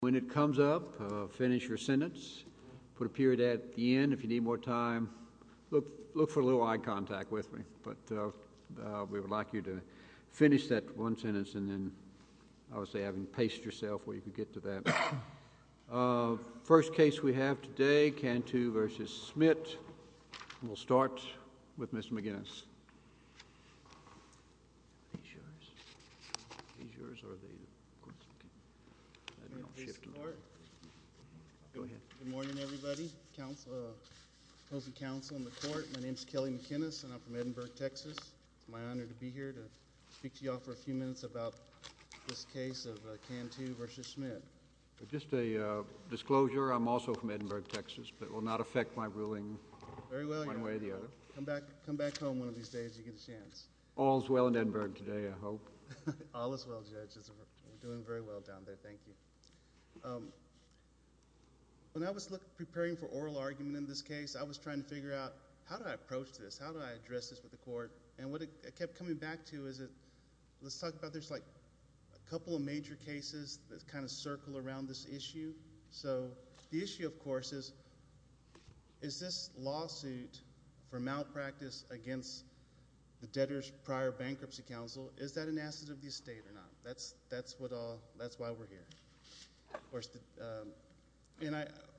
When it comes up, finish your sentence, put a period at the end if you need more time. Look for a little eye contact with me, but we would like you to finish that one sentence and then I would say having paced yourself where you could get to that. First case we have today, Cantu v. Schmidt. We'll start with Mr. McGinnis. Are these yours? Are these yours or are they? I don't know. Go ahead. Good morning, everybody. Opposing counsel in the court. My name is Kelly McGinnis and I'm from Edinburgh, Texas. It's my honor to be here to speak to you all for a few minutes about this case of Cantu v. Schmidt. Just a disclosure. I'm also from Edinburgh, Texas, but it will not affect my ruling one way or the other. Thank you. Thank you. Thank you. Thank you. Thank you. Thank you. Thank you. Thank you. Thank you. Thank you. Thank you. Thank you. All as well, judge. These days you get a chance. All as well in Edinburgh today, I hope. All as well, judge. We're doing very well down there. Thank you. When I was preparing for oral argument in this case, I was trying to figure out how do I approach this? How do I address this with the court? What I kept coming back to is, let's talk about, there's a couple of major cases that circle around this issue. The issue, of course, is, is this lawsuit for malpractice against the debtor's prior bankruptcy counsel, is that an asset of the estate or not? That's why we're here.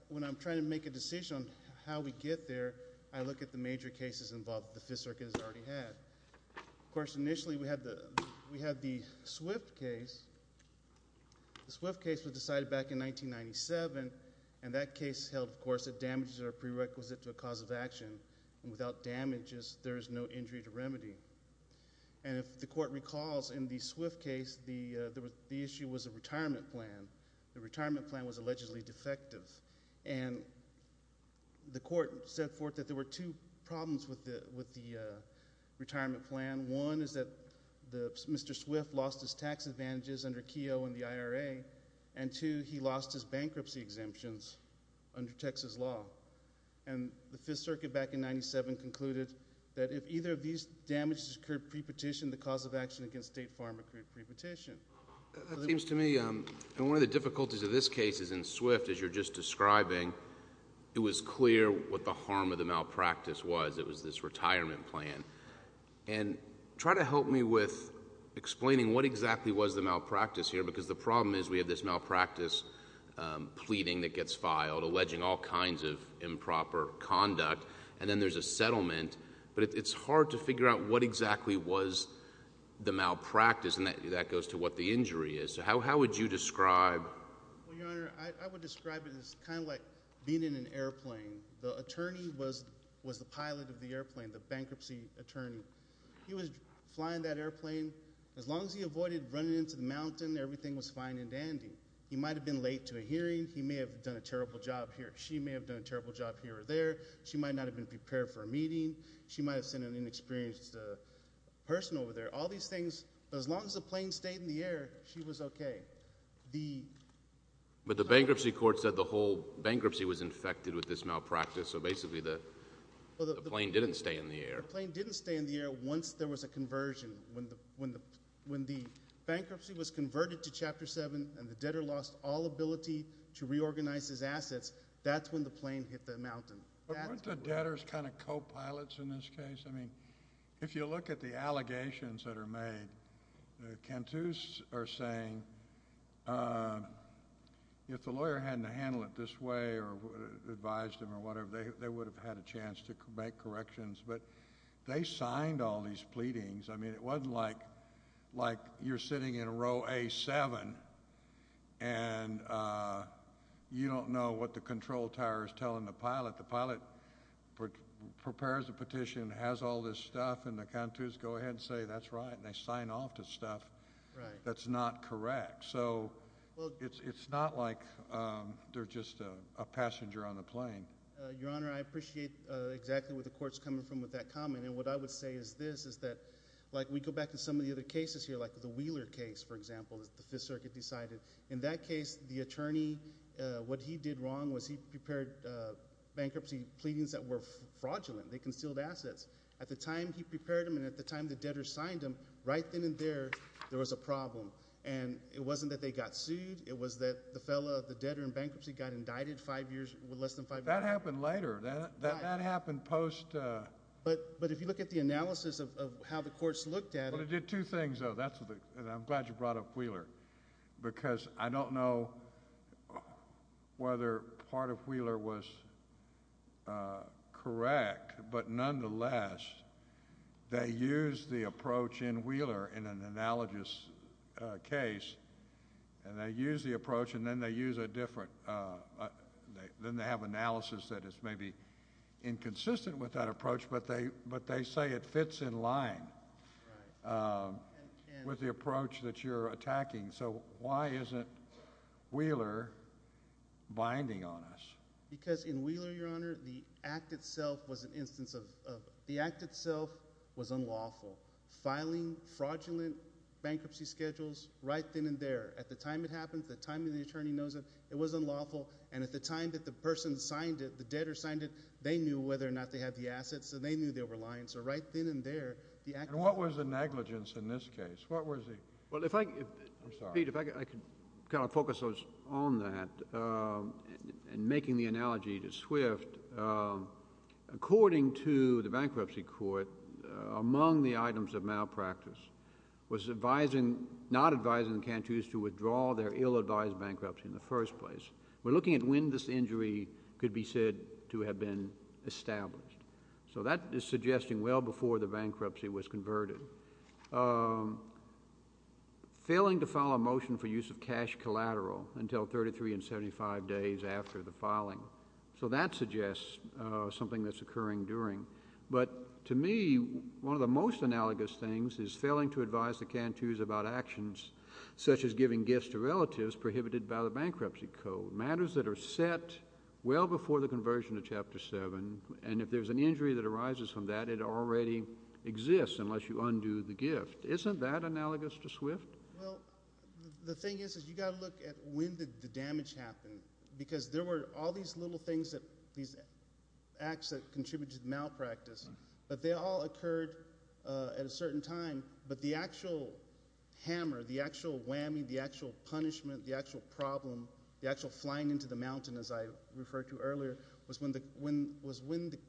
When I'm trying to make a decision on how we get there, I look at the major cases involved that the Fifth Circuit has already had. Of course, initially, we had the Swift case. The Swift case was decided back in 1997, and that case held, of course, that damages are prerequisite to a cause of action, and without damages, there is no injury to remedy. If the court recalls, in the Swift case, the issue was a retirement plan. The retirement plan was allegedly defective. The court set forth that there were two problems with the retirement plan. One is that Mr. Swift lost his tax advantages under Keogh and the IRA, and two, he lost his bankruptcy exemptions under Texas law. The Fifth Circuit, back in 1997, concluded that if either of these damages occurred pre-petition, the cause of action against State Farm accrued pre-petition. That seems to me, and one of the difficulties of this case is in Swift, as you're just describing, it was clear what the harm of the malpractice was. It was this retirement plan. Try to help me with explaining what exactly was the malpractice here, because the problem is we have this malpractice pleading that gets filed, alleging all kinds of improper conduct, and then there's a settlement, but it's hard to figure out what exactly was the malpractice, what the injury is. How would you describe? Well, Your Honor, I would describe it as kind of like being in an airplane. The attorney was the pilot of the airplane, the bankruptcy attorney. He was flying that airplane. As long as he avoided running into the mountain, everything was fine and dandy. He might have been late to a hearing. He may have done a terrible job here. She may have done a terrible job here or there. She might not have been prepared for a meeting. She might have seen an inexperienced person over there. All these things, as long as the plane stayed in the air, she was okay. But the bankruptcy court said the whole bankruptcy was infected with this malpractice, so basically the plane didn't stay in the air. The plane didn't stay in the air once there was a conversion. When the bankruptcy was converted to Chapter 7 and the debtor lost all ability to reorganize his assets, that's when the plane hit the mountain. But weren't the debtors kind of co-pilots in this case? I mean, if you look at the allegations that are made, the Cantus are saying if the lawyer hadn't handled it this way or advised him or whatever, they would have had a chance to make corrections. But they signed all these pleadings. I mean, it wasn't like you're sitting in row A7 and you don't know what the control tower is telling the pilot. The pilot prepares a petition, has all this stuff, and the Cantus go ahead and say that's right, and they sign off to stuff that's not correct. So it's not like they're just a passenger on the plane. Your Honor, I appreciate exactly where the Court's coming from with that comment. And what I would say is this, is that, like we go back to some of the other cases here, like the Wheeler case, for example, that the Fifth Circuit decided. In that case, the attorney, what he did wrong was he prepared bankruptcy pleadings that were fraudulent. They concealed assets. At the time he prepared them and at the time the debtor signed them, right then and there, there was a problem. And it wasn't that they got sued. It was that the fellow, the debtor in bankruptcy, got indicted five years, less than five years later. That happened later. Why? That happened post- But if you look at the analysis of how the Court's looked at it- Well, it did two things, though, and I'm glad you brought up Wheeler, because I don't know whether part of Wheeler was correct, but nonetheless, they used the approach in Wheeler in an analogous case, and they used the approach, and then they use a different, then they have analysis that is maybe inconsistent with that approach, but they say it fits in line with the approach that you're attacking. So why isn't Wheeler binding on us? Because in Wheeler, Your Honor, the act itself was an instance of, the act itself was unlawful. Filing fraudulent bankruptcy schedules right then and there. At the time it happened, the time that the attorney knows it, it was unlawful, and at the time that the person signed it, the debtor signed it, they knew whether or not they had the assets, so they knew they were lying. So right then and there, the act- And what was the negligence in this case? What was the- Well, if I- I'm sorry. Pete, if I could kind of focus on that, and making the analogy to Swift, according to the Bankruptcy Court, among the items of malpractice was advising, not advising the canteens to withdraw their ill-advised bankruptcy in the first place. We're looking at when this injury could be said to have been established. So that is suggesting well before the bankruptcy was converted. Failing to file a motion for use of cash collateral until 33 and 75 days after the filing. So that suggests something that's occurring during. But to me, one of the most analogous things is failing to advise the canteens about actions such as giving gifts to relatives prohibited by the Bankruptcy Code, matters that are set well before the conversion of Chapter 7. And if there's an injury that arises from that, it already exists unless you undo the gift. Isn't that analogous to Swift? Well, the thing is, is you've got to look at when did the damage happen? Because there were all these little things that, these acts that contributed to malpractice, but they all occurred at a certain time. But the actual hammer, the actual whammy, the actual punishment, the actual problem, the actual flying into the mountain, as I referred to earlier, was when the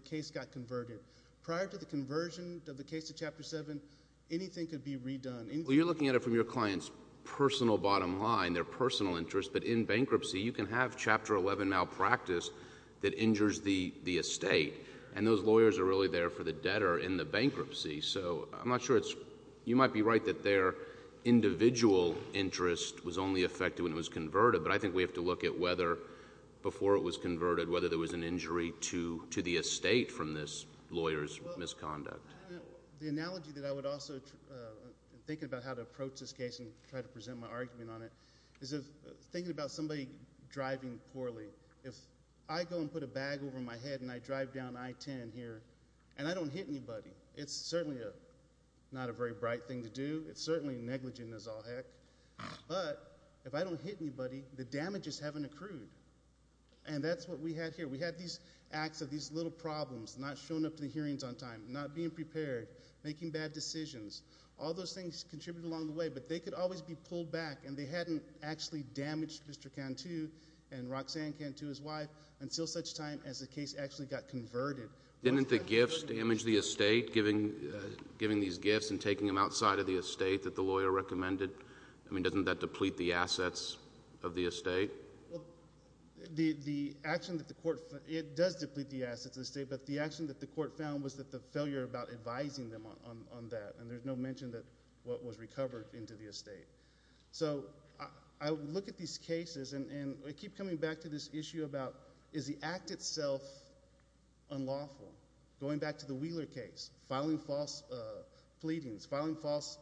case got converted. Prior to the conversion of the case to Chapter 7, anything could be redone. Well, you're looking at it from your client's personal bottom line, their personal interest. But in bankruptcy, you can have Chapter 11 malpractice that injures the estate. And those lawyers are really there for the debtor in the bankruptcy. So I'm not sure it's, you might be right that their individual interest was only affected when it was converted. But I think we have to look at whether, before it was converted, whether there was an injury to the estate from this lawyer's misconduct. The analogy that I would also, thinking about how to approach this case and try to present my argument on it, is thinking about somebody driving poorly. If I go and put a bag over my head and I drive down I-10 here, and I don't hit anybody, it's certainly not a very bright thing to do. It's certainly negligent as all heck. But, if I don't hit anybody, the damage is having accrued. And that's what we had here. We had these acts of these little problems, not showing up to the hearings on time, not being prepared, making bad decisions. All those things contributed along the way, but they could always be pulled back and they hadn't actually damaged Mr. Cantu and Roxanne Cantu's wife until such time as the case actually got converted. Didn't the gifts damage the estate, giving these gifts and taking them outside of the estate? I mean, doesn't that deplete the assets of the estate? The action that the court, it does deplete the assets of the estate, but the action that the court found was that the failure about advising them on that, and there's no mention that what was recovered into the estate. So I look at these cases and I keep coming back to this issue about, is the act itself unlawful? Going back to the Wheeler case, filing false pleadings, filing false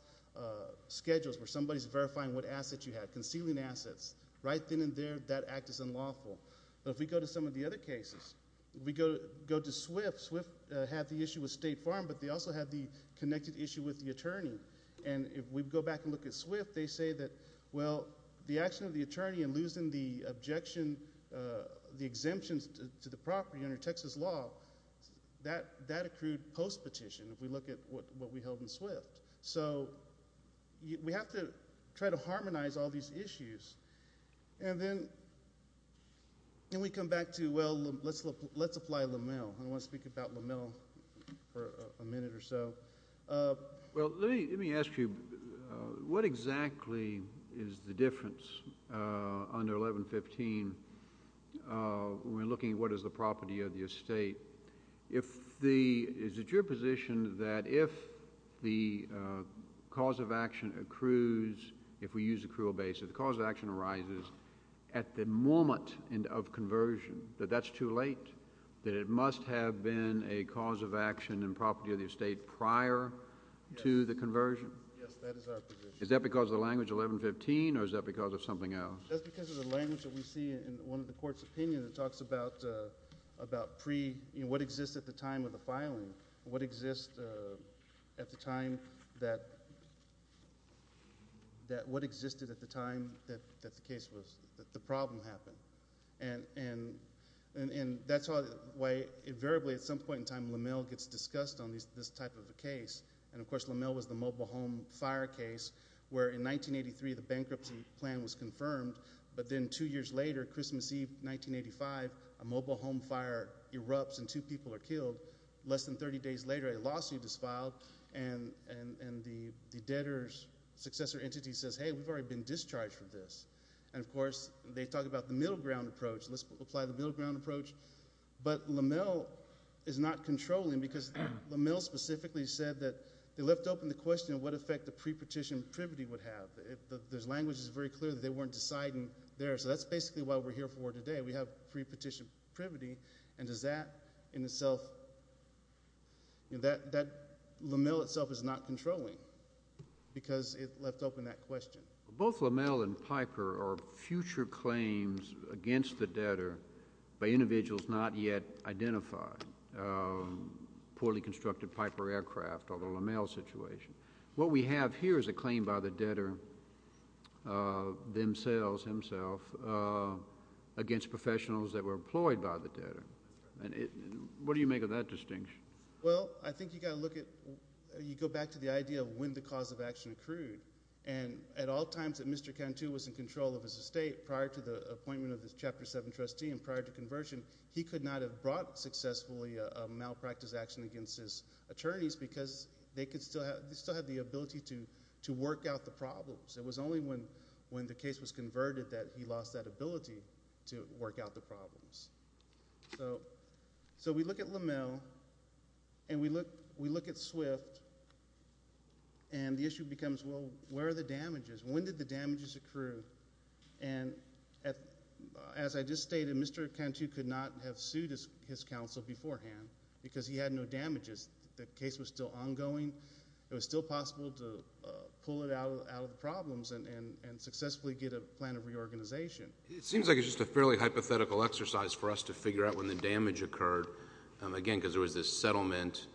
schedules where somebody's verifying what assets you had, concealing assets, right then and there, that act is unlawful. But if we go to some of the other cases, if we go to Swift, Swift had the issue with State Farm, but they also had the connected issue with the attorney. And if we go back and look at Swift, they say that, well, the action of the attorney and losing the objection, the exemptions to the property under Texas law, that accrued post-petition, if we look at what we held in Swift. So we have to try to harmonize all these issues. And then we come back to, well, let's apply Lamell. I want to speak about Lamell for a minute or so. Well, let me ask you, what exactly is the difference under 1115 when we're looking at what is the property of the estate? Is it your position that if the cause of action accrues, if we use accrual basis, the cause of action arises at the moment of conversion, that that's too late, that it must have been a cause of action in property of the estate prior to the conversion? Yes, that is our position. Is that because of the language 1115, or is that because of something else? That's because of the language that we see in one of the court's opinions. It talks about pre, what exists at the time of the filing. What exists at the time that, what existed at the time that the case was, that the problem happened. And that's why, invariably, at some point in time, Lamell gets discussed on this type of a case. And, of course, Lamell was the mobile home fire case where, in 1983, the bankruptcy plan was confirmed. But then, two years later, Christmas Eve, 1985, a mobile home fire erupts and two people are killed. Less than 30 days later, a lawsuit is filed, and the debtor's successor entity says, hey, we've already been discharged from this. And, of course, they talk about the middle ground approach. Let's apply the middle ground approach. But Lamell is not controlling, because Lamell specifically said that they left open the question of what effect the pre-partition privity would have. The language is very clear that they weren't deciding there, so that's basically what we're here for today. We have pre-partition privity, and does that, in itself, that Lamell itself is not controlling, because it left open that question. Both Lamell and Piper are future claims against the debtor by individuals not yet identified, poorly constructed Piper aircraft, or the Lamell situation. What we have here is a claim by the debtor themselves, himself, against professionals that were employed by the debtor. What do you make of that distinction? Well, I think you got to look at, you go back to the idea of when the cause of action accrued. And at all times that Mr. Cantu was in control of his estate, prior to the appointment of his Chapter 7 trustee and prior to conversion, he could not have brought successfully a malpractice action against his attorneys, because they could still have the ability to work out the problems. It was only when the case was converted that he lost that ability to work out the problems. So we look at Lamell, and we look at Swift, and the issue becomes, well, where are the damages? When did the damages accrue? And as I just stated, Mr. Cantu could not have sued his counsel beforehand, because he had no damages. The case was still ongoing. It was still possible to pull it out of the problems and successfully get a plan of reorganization. It seems like it's just a fairly hypothetical exercise for us to figure out when the damage occurred, again, because there was this settlement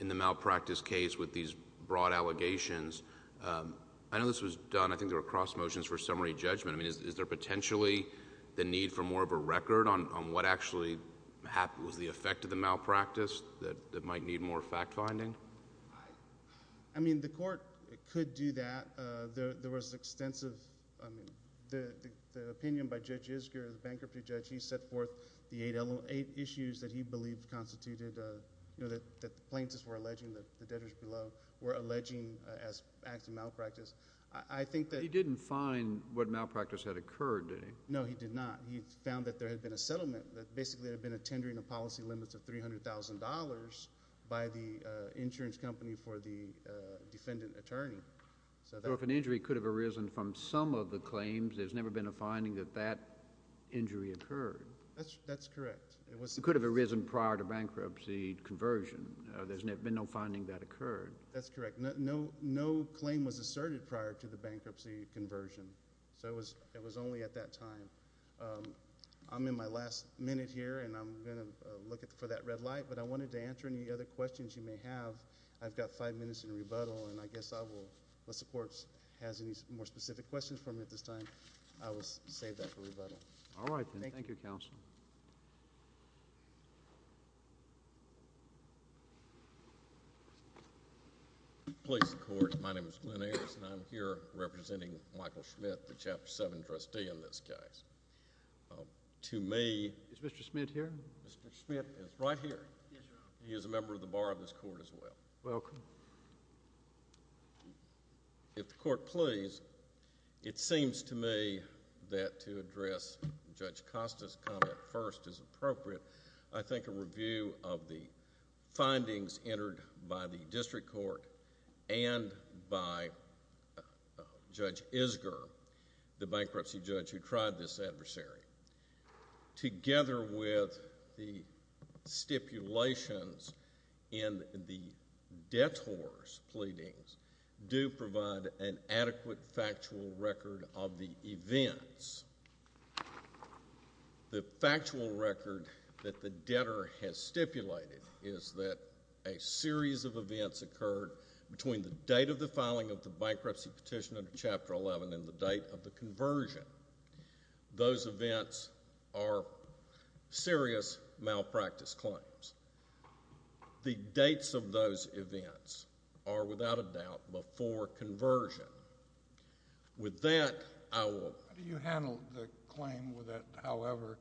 in the malpractice case with these broad allegations. I know this was done. I think there were cross motions for summary judgment. I mean, is there potentially the need for more of a record on what actually was the effect of the malpractice that might need more fact-finding? I mean, the Court could do that. There was extensive... I mean, the opinion by Judge Isgur, the bankruptcy judge, he set forth the eight issues that he believed constituted... you know, that the plaintiffs were alleging that the debtors below were alleging as acts of malpractice. I think that... He didn't find what malpractice had occurred, did he? No, he did not. He found that there had been a settlement, that basically there had been a tendering of policy limits of $300,000 by the insurance company for the defendant attorney. So, if an injury could have arisen from some of the claims, there's never been a finding that that injury occurred. That's correct. It could have arisen prior to bankruptcy conversion. There's been no finding that occurred. That's correct. No claim was asserted prior to the bankruptcy conversion. So it was only at that time. I'm in my last minute here, and I'm going to look for that red light, but I wanted to answer any other questions you may have. I've got five minutes in rebuttal, and I guess I will... unless the Court has any more specific questions for me at this time, I will save that for rebuttal. All right, then. Thank you, Counsel. Please, the Court. My name is Glenn Ayers, and I'm here representing Michael Schmidt, the Chapter 7 trustee in this case. To me... Is Mr. Schmidt here? Mr. Schmidt is right here. Yes, Your Honor. He is a member of the Bar of this Court as well. Welcome. If the Court please, it seems to me that to address Judge Costa's comment first is appropriate. I think a review of the findings entered by the District Court and by Judge Isgur, the bankruptcy judge who tried this adversary, together with the stipulations in the detours pleadings, do provide an adequate factual record of the events. The factual record that the debtor has stipulated is that a series of events occurred between the date of the filing of the bankruptcy petition under Chapter 11 and the date of the conversion. Those events are serious malpractice claims. The dates of those events are, without a doubt, before conversion. With that, I will... How do you handle the claim that, however,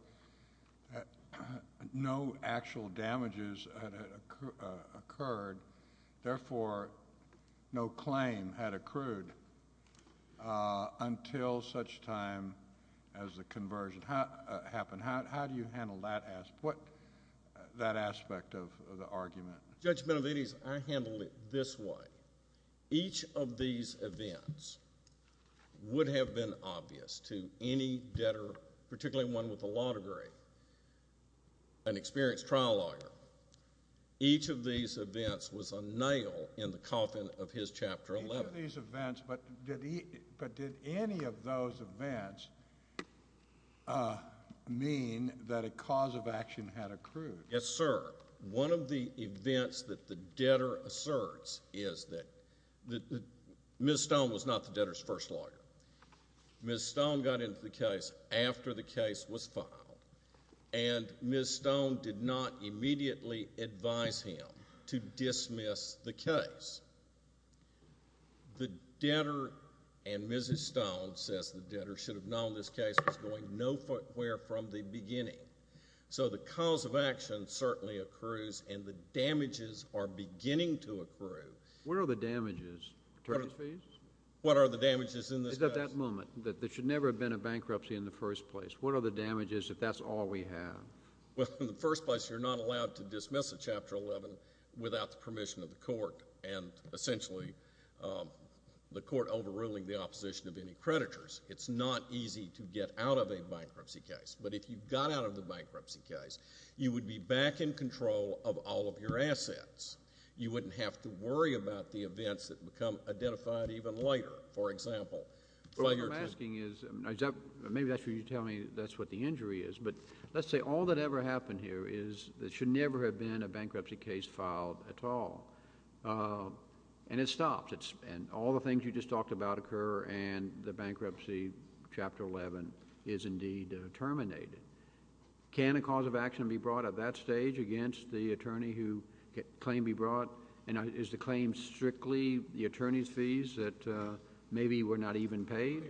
no actual damages had occurred, therefore no claim had accrued until such time as the conversion happened? How do you handle that aspect of the argument? Judge Melveni, I handle it this way. Each of these events would have been obvious to any debtor, particularly one with a law degree, an experienced trial lawyer. Each of these events was a nail in the coffin of his Chapter 11. Each of these events, but did any of those events mean that a cause of action had accrued? Yes, sir. One of the events that the debtor asserts is that Ms. Stone was not the debtor's first lawyer. Ms. Stone got into the case after the case was filed, and Ms. Stone did not immediately advise him to dismiss the case. The debtor and Mrs. Stone, says the debtor, should have known this case was going nowhere from the beginning. So the cause of action certainly accrues, and the damages are beginning to accrue. What are the damages, attorneys please? What are the damages in this case? It's at that moment. There should never have been a bankruptcy in the first place. What are the damages if that's all we have? Well, in the first place, you're not allowed to dismiss a Chapter 11 without the permission of the court, and essentially the court overruling the opposition of any creditors. It's not easy to get out of a bankruptcy case, but if you got out of the bankruptcy case, you would be back in control of all of your assets. You wouldn't have to worry about the events that become identified even later. For example— What I'm asking is, maybe that's what you're telling me that's what the injury is, but let's say all that ever happened here is there should never have been a bankruptcy case filed at all, and it stops, and all the things you just talked about occur, and the bankruptcy, Chapter 11, is indeed terminated. Can a cause of action be brought at that stage against the attorney who claimed to be brought, and is the claim strictly the attorney's fees that maybe were not even paid?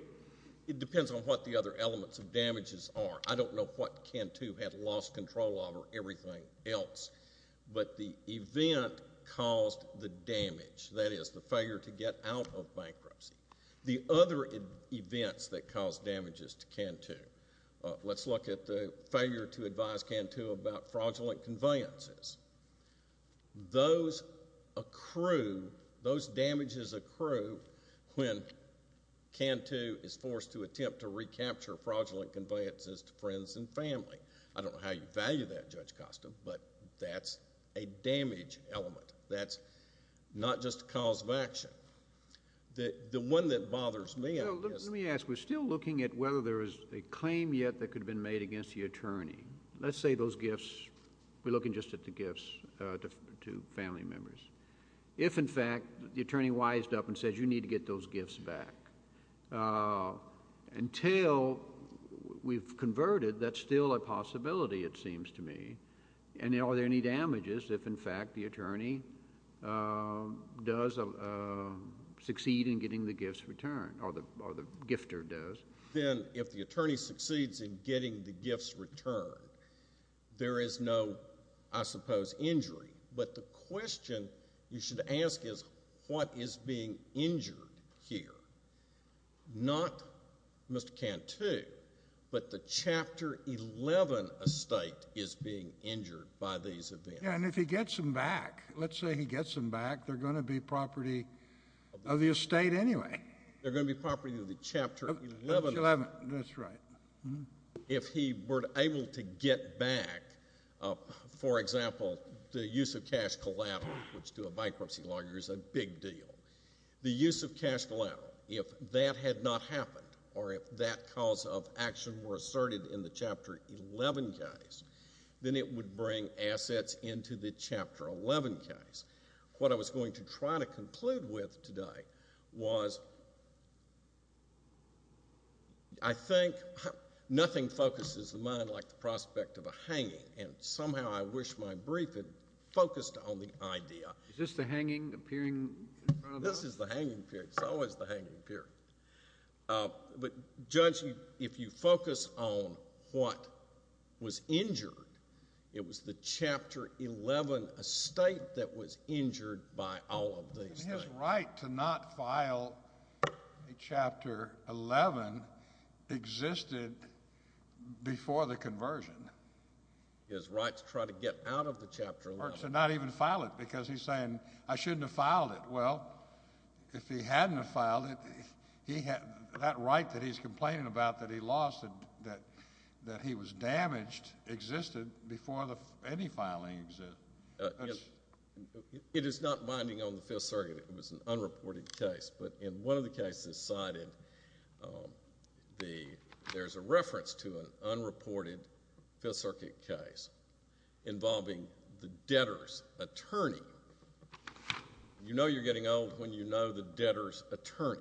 It depends on what the other elements of damages are. I don't know what Cantu had lost control of or everything else, but the event caused the damage, that is, the failure to get out of bankruptcy. The other events that cause damages to Cantu, let's look at the failure to advise Cantu about fraudulent conveyances. Those accrue, those damages accrue when Cantu is forced to attempt to recapture fraudulent conveyances to friends and family. I don't know how you value that, Judge Costa, but that's a damage element. That's not just a cause of action. The one that bothers me, I guess... Let me ask. We're still looking at whether there is a claim yet that could have been made against the attorney. Let's say those gifts, we're looking just at the gifts to family members. If in fact, the attorney wised up and said, you need to get those gifts back, until we've converted, that's still a possibility, it seems to me, and are there any damages if in fact, the attorney does succeed in getting the gifts returned, or the gifter does? Then, if the attorney succeeds in getting the gifts returned, there is no, I suppose, injury. But the question you should ask is, what is being injured here? Not Mr. Cantu, but the Chapter 11 estate is being injured by these events. And if he gets them back, let's say he gets them back, they're going to be property of the estate anyway. They're going to be property of the Chapter 11... That's right. If he were able to get back, for example, the use of cash collateral, which to a bankruptcy lawyer is a big deal, the use of cash collateral, if that had not happened, or if that cause of action were asserted in the Chapter 11 case, then it would bring assets into the Chapter 11 case. What I was going to try to conclude with today was, I think, nothing focuses the mind like the prospect of a hanging, and somehow, I wish my brief had focused on the idea... Is this the hanging appearing in front of us? This is the hanging period. It's always the hanging period. But Judge, if you focus on what was injured, it was the Chapter 11 estate that was injured by all of these things. It's his right to not file a Chapter 11 existed before the conversion. It's his right to try to get out of the Chapter 11. Or to not even file it, because he's saying, I shouldn't have filed it. Well, if he hadn't have filed it, that right that he's complaining about, that he lost, that he was damaged, existed before any filing existed. It is not binding on the Fifth Circuit. It was an unreported case, but in one of the cases cited, there's a reference to an unreported Fifth Circuit case involving the debtor's attorney. You know you're getting old when you know the debtor's attorney.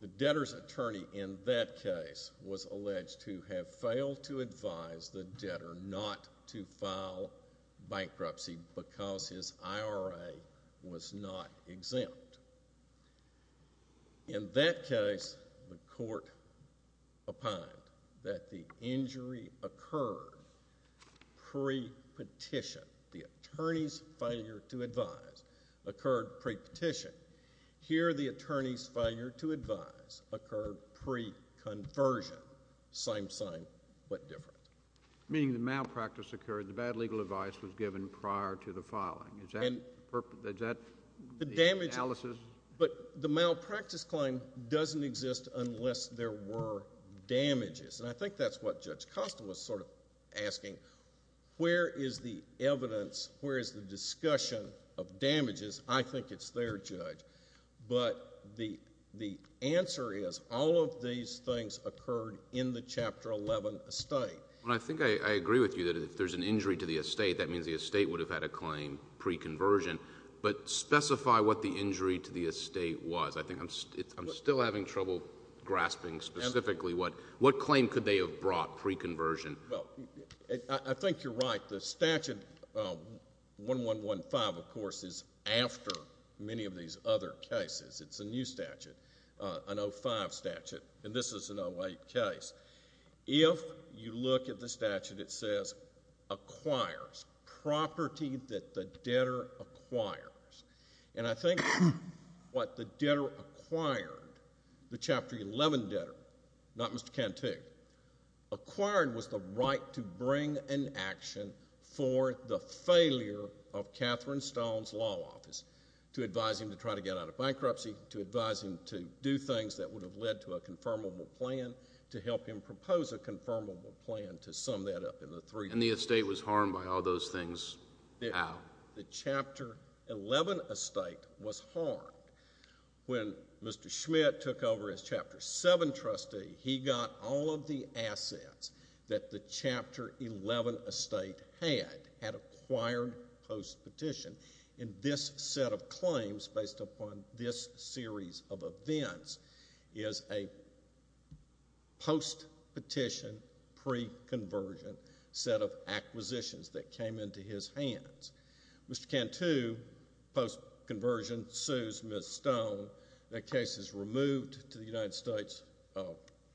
The debtor's attorney in that case was alleged to have failed to advise the debtor not to file bankruptcy because his IRA was not exempt. In that case, the court opined that the injury occurred pre-petition. The attorney's failure to advise occurred pre-petition. Here the attorney's failure to advise occurred pre-conversion. Same sign, but different. Meaning the malpractice occurred, the bad legal advice was given prior to the filing. Is that the analysis? But the malpractice claim doesn't exist unless there were damages. I think that's what Judge Kostin was sort of asking. Where is the evidence, where is the discussion of damages? I think it's there, Judge. But the answer is all of these things occurred in the Chapter 11 estate. I think I agree with you that if there's an injury to the estate, that means the estate would have had a claim pre-conversion. But specify what the injury to the estate was. I'm still having trouble grasping specifically what claim could they have brought pre-conversion. I think you're right. The statute, 1115, of course, is after many of these other cases. It's a new statute, an 05 statute, and this is an 08 case. If you look at the statute, it says acquires, property that the debtor acquires. And I think what the debtor acquired, the Chapter 11 debtor, not Mr. Cantu, acquired was the right to bring an action for the failure of Catherine Stone's law office, to advise him to try to get out of bankruptcy, to advise him to do things that would have led to a confirmable plan, to help him propose a confirmable plan, to sum that up in the three. And the estate was harmed by all those things how? The Chapter 11 estate was harmed when Mr. Schmidt took over as Chapter 7 trustee. He got all of the assets that the Chapter 11 estate had, had acquired post-petition. In this set of claims, based upon this series of events, is a post-petition, pre-conversion set of acquisitions that came into his hands. Mr. Cantu, post-conversion, sues Ms. Stone. That case is removed to the United States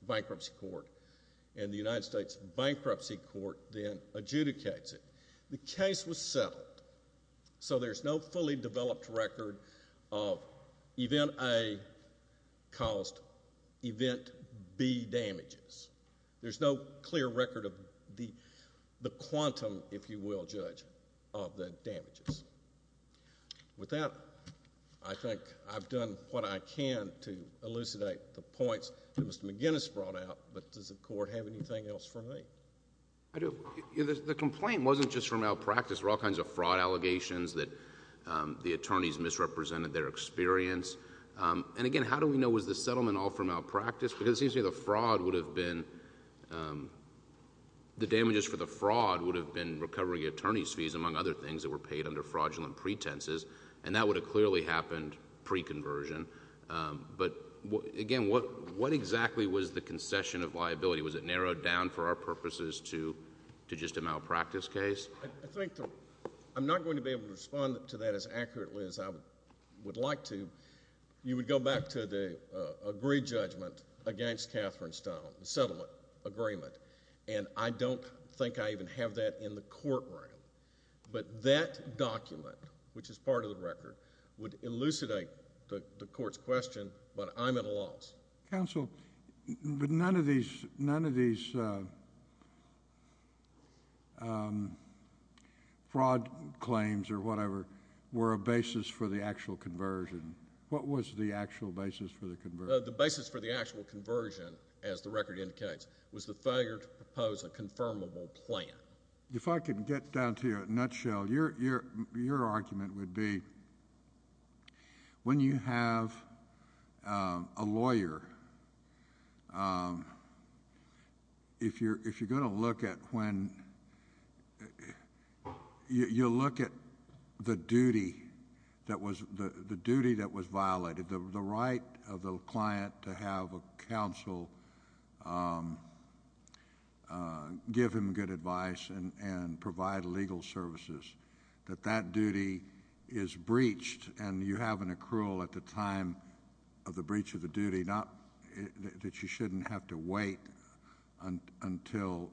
Bankruptcy Court, and the United States Bankruptcy Court then adjudicates it. The case was settled, so there's no fully developed record of Event A caused Event B damages. There's no clear record of the quantum, if you will, Judge, of the damages. With that, I think I've done what I can to elucidate the points that Mr. McGinnis brought out, but does the Court have anything else for me? The complaint wasn't just for malpractice. There were all kinds of fraud allegations that the attorneys misrepresented their experience. And again, how do we know was the settlement all for malpractice? Because it seems to me the damages for the fraud would have been recovering attorney's fees, among other things, that were paid under fraudulent pretenses. And that would have clearly happened pre-conversion. But again, what exactly was the concession of liability? Was it narrowed down for our purposes to just a malpractice case? I think I'm not going to be able to respond to that as accurately as I would like to. You would go back to the agreed judgment against Catherine Stone, the settlement agreement, and I don't think I even have that in the courtroom. But that document, which is part of the record, would elucidate the Court's question, but I'm at a loss. Counsel, but none of these fraud claims or whatever were a basis for the actual conversion. What was the actual basis for the conversion? The basis for the actual conversion, as the record indicates, was the failure to propose a confirmable plan. If I could get down to a nutshell, your argument would be, when you have a lawyer, if you're going to look at when... you look at the duty that was violated, the right of the client to have a counsel give him good advice and provide legal services, that that duty is breached and you have an accrual at the time of the breach of the duty, that you shouldn't have to wait until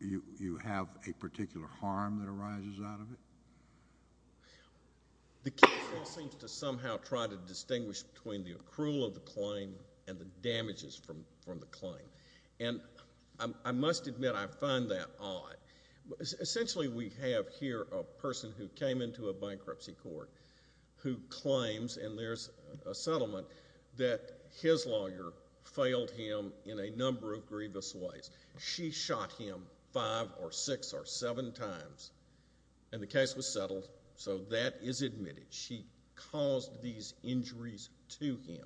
you have a particular harm that arises out of it? The counsel seems to somehow try to distinguish between the accrual of the claim and the damages from the claim, and I must admit, I find that odd. Essentially, we have here a person who came into a bankruptcy court who claims, and there's a settlement, that his lawyer failed him in a number of grievous ways. She shot him five or six or seven times, and the case was settled, so that is admitted. She caused these injuries to him.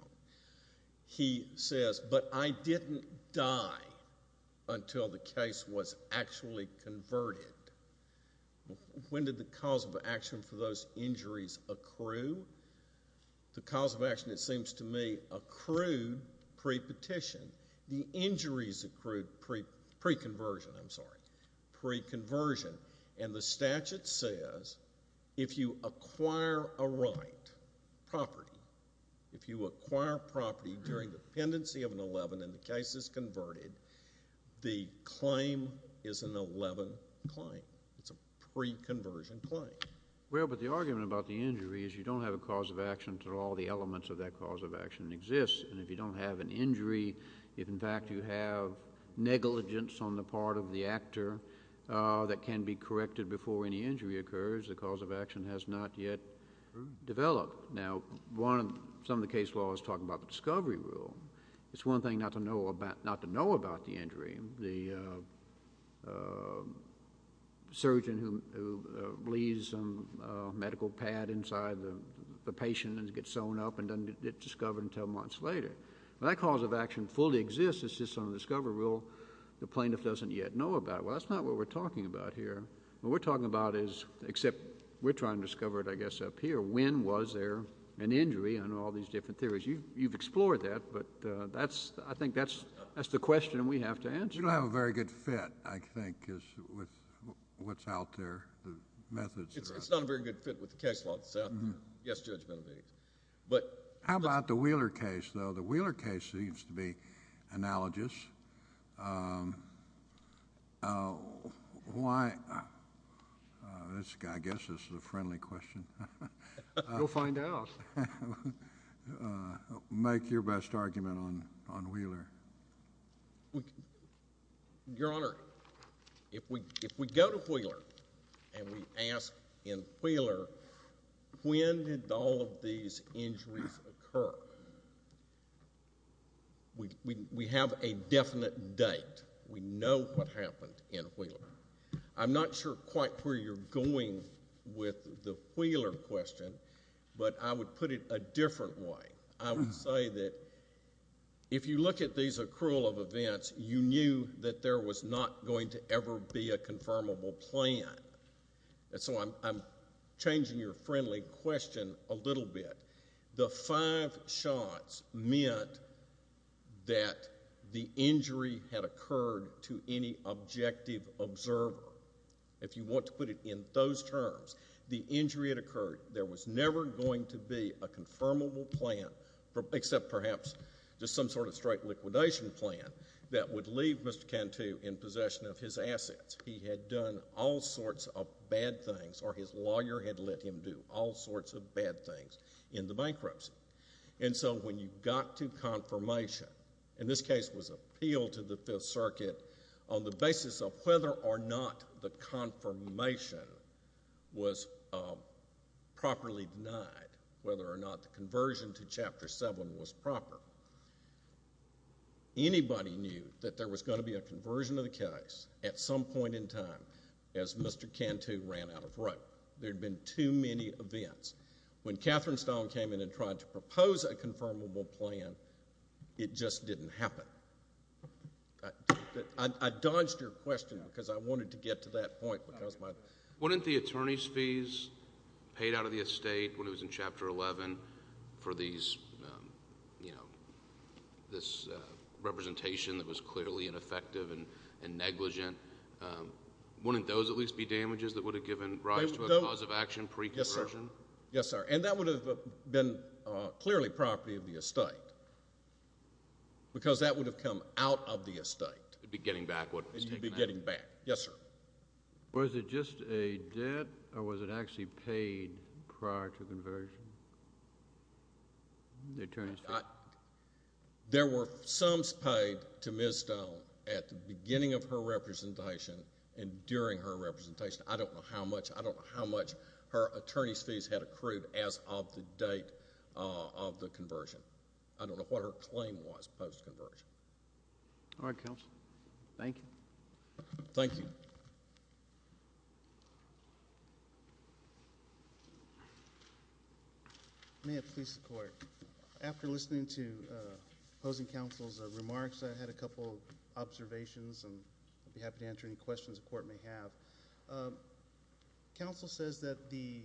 He says, but I didn't die until the case was actually converted. When did the cause of action for those injuries accrue? The cause of action, it seems to me, accrued pre-petition. The injuries accrued pre-conversion, I'm sorry, pre-conversion, and the statute says, if you acquire a right, property, if you acquire property during the pendency of an 11 and the case is converted, the claim is an 11 claim. It's a pre-conversion claim. Well, but the argument about the injury is you don't have a cause of action until all the elements of that cause of action exist, and if you don't have an injury, if, in fact, you have negligence on the part of the actor that can be corrected before any injury occurs, the cause of action has not yet developed. Now, some of the case law is talking about the discovery rule. It's one thing not to know about the injury. The surgeon who leaves a medical pad inside the patient and gets sewn up and doesn't get discovered until months later. That cause of action fully exists. It's just on the discovery rule. The plaintiff doesn't yet know about it. Well, that's not what we're talking about here. What we're talking about is, except we're trying to discover it, I guess, up here. When was there an injury? I know all these different theories. You've explored that, but I think that's the question we have to answer. You don't have a very good fit, I think, with what's out there, the methods. It's not a very good fit with the case law that's out there. Yes, Judge Benavides. How about the Wheeler case, though? The Wheeler case seems to be analogous. I guess this is a friendly question. You'll find out. Make your best argument on Wheeler. Your Honor, if we go to Wheeler and we ask, in Wheeler, when did all of these injuries occur, we have a definite date. We know what happened in Wheeler. I'm not sure quite where you're going with the Wheeler question, but I would put it a different way. I would say that if you look at these accrual of events, you knew that there was not going to ever be a confirmable plan. So I'm changing your friendly question a little bit. The five shots meant that the injury had occurred to any objective observer. If you want to put it in those terms, the injury had occurred. There was never going to be a confirmable plan, except perhaps just some sort of straight liquidation plan, that would leave Mr. Cantu in possession of his assets. He had done all sorts of bad things, or his lawyer had let him do all sorts of bad things in the bankruptcy. And so when you got to confirmation, and this case was appealed to the Fifth Circuit on the basis of whether or not the confirmation was properly denied, whether or not the conversion to Chapter 7 was proper, anybody knew that there was going to be a conversion of the case at some point in time, as Mr. Cantu ran out of rope. There had been too many events. When Catherine Stone came in and tried to propose a confirmable plan, it just didn't happen. I dodged your question, because I wanted to get to that point. Wouldn't the attorney's fees paid out of the estate, when it was in Chapter 11, for this representation that was clearly ineffective and negligent, wouldn't those at least be damages that would have given rise to a cause of action pre-conversion? Yes, sir. Yes, sir. And that would have been clearly property of the estate, because that would have come out of the estate. It would be getting back what was taken out. It would be getting back. Yes, sir. Was it just a debt, or was it actually paid prior to conversion, the attorney's fees? There were sums paid to Ms. Stone at the beginning of her representation and during her representation. I don't know how much. I don't know how much her attorney's fees had accrued as of the date of the conversion. I don't know what her claim was post-conversion. All right, counsel. Thank you. Thank you. May it please the Court. After listening to opposing counsel's remarks, I had a couple of observations, and I'd be happy to answer any questions the Court may have. Counsel says that the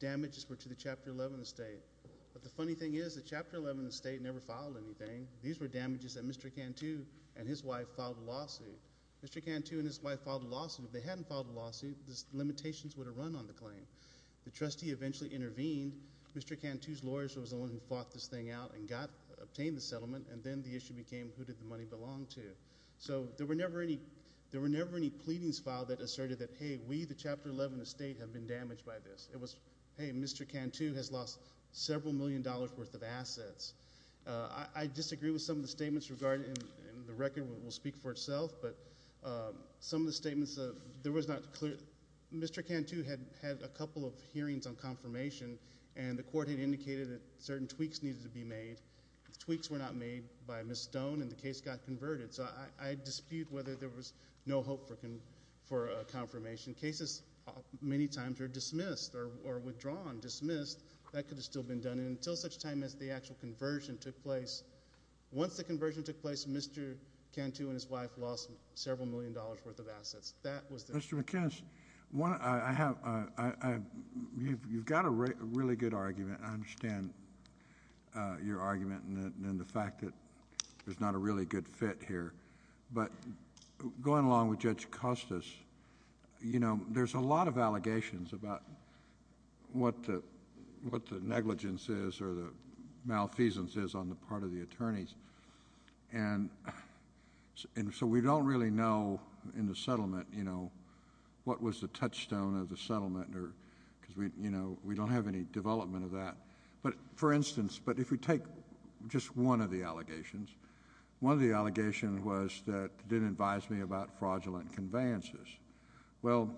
damages were to the Chapter 11 estate, but the funny thing is the Chapter 11 estate never filed anything. These were damages that Mr. Cantu and his wife filed a lawsuit. Mr. Cantu and his wife filed a lawsuit. If they hadn't filed a lawsuit, the limitations would have run on the claim. The trustee eventually intervened. Mr. Cantu's lawyer was the one who fought this thing out and obtained the settlement, and then the issue became, who did the money belong to? So there were never any pleadings filed that asserted that, hey, we, the Chapter 11 estate, have been damaged by this. It was, hey, Mr. Cantu has lost several million dollars' worth of assets. I disagree with some of the statements regarding it, and the record will speak for itself, but some of the statements, there was not clear. Mr. Cantu had a couple of hearings on confirmation, and the Court had indicated that certain tweaks needed to be made. The tweaks were not made by Ms. Stone, and the case got converted. So I dispute whether there was no hope for a confirmation. Cases, many times, are dismissed or withdrawn, dismissed. That could have still been done, and until such time as the actual conversion took place, once the conversion took place, Mr. Cantu and his wife lost several million dollars' worth of assets. That was the... Mr. McIntosh, I have... you've got a really good argument, and I understand your argument and the fact that there's not a really good fit here, but going along with Judge Costas, you know, there's a lot of allegations about what the negligence is or the malfeasance is on the part of the attorneys, and so we don't really know in the settlement, you know, what was the touchstone of the settlement, because, you know, we don't have any development of that. But, for instance, but if we take just one of the allegations, one of the allegations was that it didn't advise me about fraudulent conveyances. Well,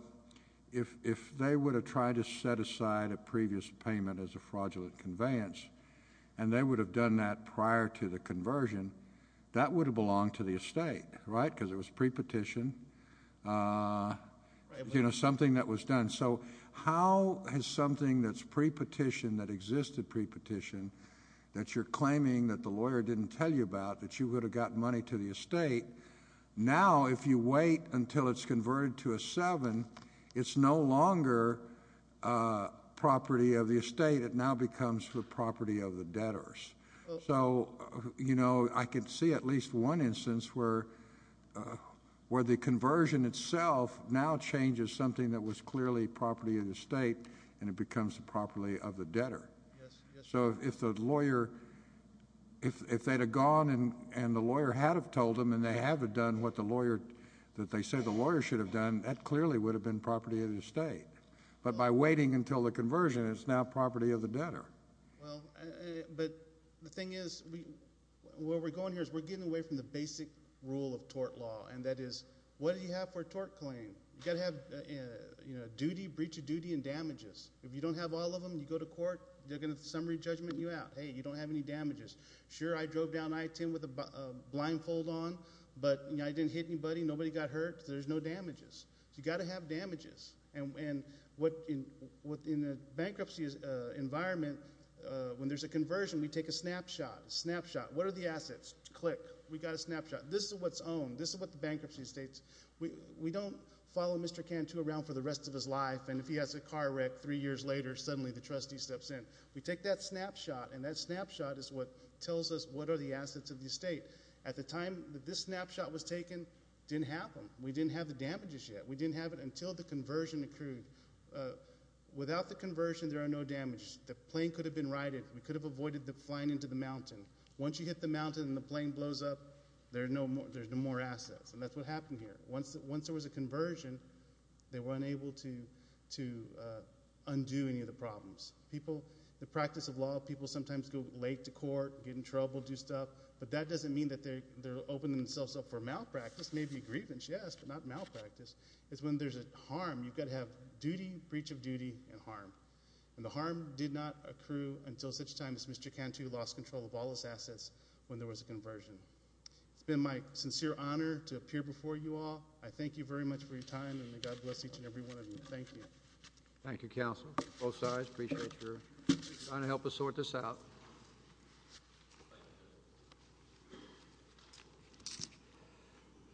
if they would have tried to set aside a previous payment as a fraudulent conveyance, and they would have done that prior to the conversion, that would have belonged to the estate, right, because it was pre-petition, you know, something that was done. And so how has something that's pre-petition, that existed pre-petition, that you're claiming that the lawyer didn't tell you about, that you would have gotten money to the estate, now if you wait until it's converted to a seven, it's no longer property of the estate. It now becomes the property of the debtors. So, you know, I could see at least one instance where the conversion itself now changes something that was clearly property of the estate, and it becomes the property of the debtor. So if the lawyer, if they'd have gone and the lawyer had have told them, and they have have done what the lawyer, that they say the lawyer should have done, that clearly would have been property of the estate. But by waiting until the conversion, it's now property of the debtor. Well, but the thing is, where we're going here is we're getting away from the basic rule of tort law, and that is, what do you have for a tort claim? You've got to have, you know, duty, breach of duty, and damages. If you don't have all of them, you go to court, they're going to summary judgment you out. Hey, you don't have any damages. Sure, I drove down I-10 with a blindfold on, but I didn't hit anybody, nobody got hurt, there's no damages. So you've got to have damages. And what, in a bankruptcy environment, when there's a conversion, we take a snapshot. A snapshot. What are the assets? Click. We've got a snapshot. This is what's owned. This is what the bankruptcy estate. We don't follow Mr. Cantu around for the rest of his life, and if he has a car wreck three years later, suddenly the trustee steps in. We take that snapshot, and that snapshot is what tells us what are the assets of the estate. At the time that this snapshot was taken, it didn't happen. We didn't have the damages yet. We didn't have it until the conversion occurred. Without the conversion, there are no damages. The plane could have been righted. We could have avoided the flying into the mountain. Once you hit the mountain and the plane blows up, there's no more assets, and that's what happened here. Once there was a conversion, they were unable to undo any of the problems. The practice of law, people sometimes go late to court, get in trouble, do stuff, but that doesn't mean that they're opening themselves up for malpractice, maybe grievance, yes, but not malpractice. It's when there's a harm, you've got to have duty, breach of duty, and harm, and the harm did not accrue until such time as Mr. Cantu lost control of all his assets when there was a conversion. It's been my sincere honor to appear before you all. I thank you very much for your time, and may God bless each and every one of you. Thank you. Thank you, Counsel. Both sides, appreciate your trying to help us sort this out.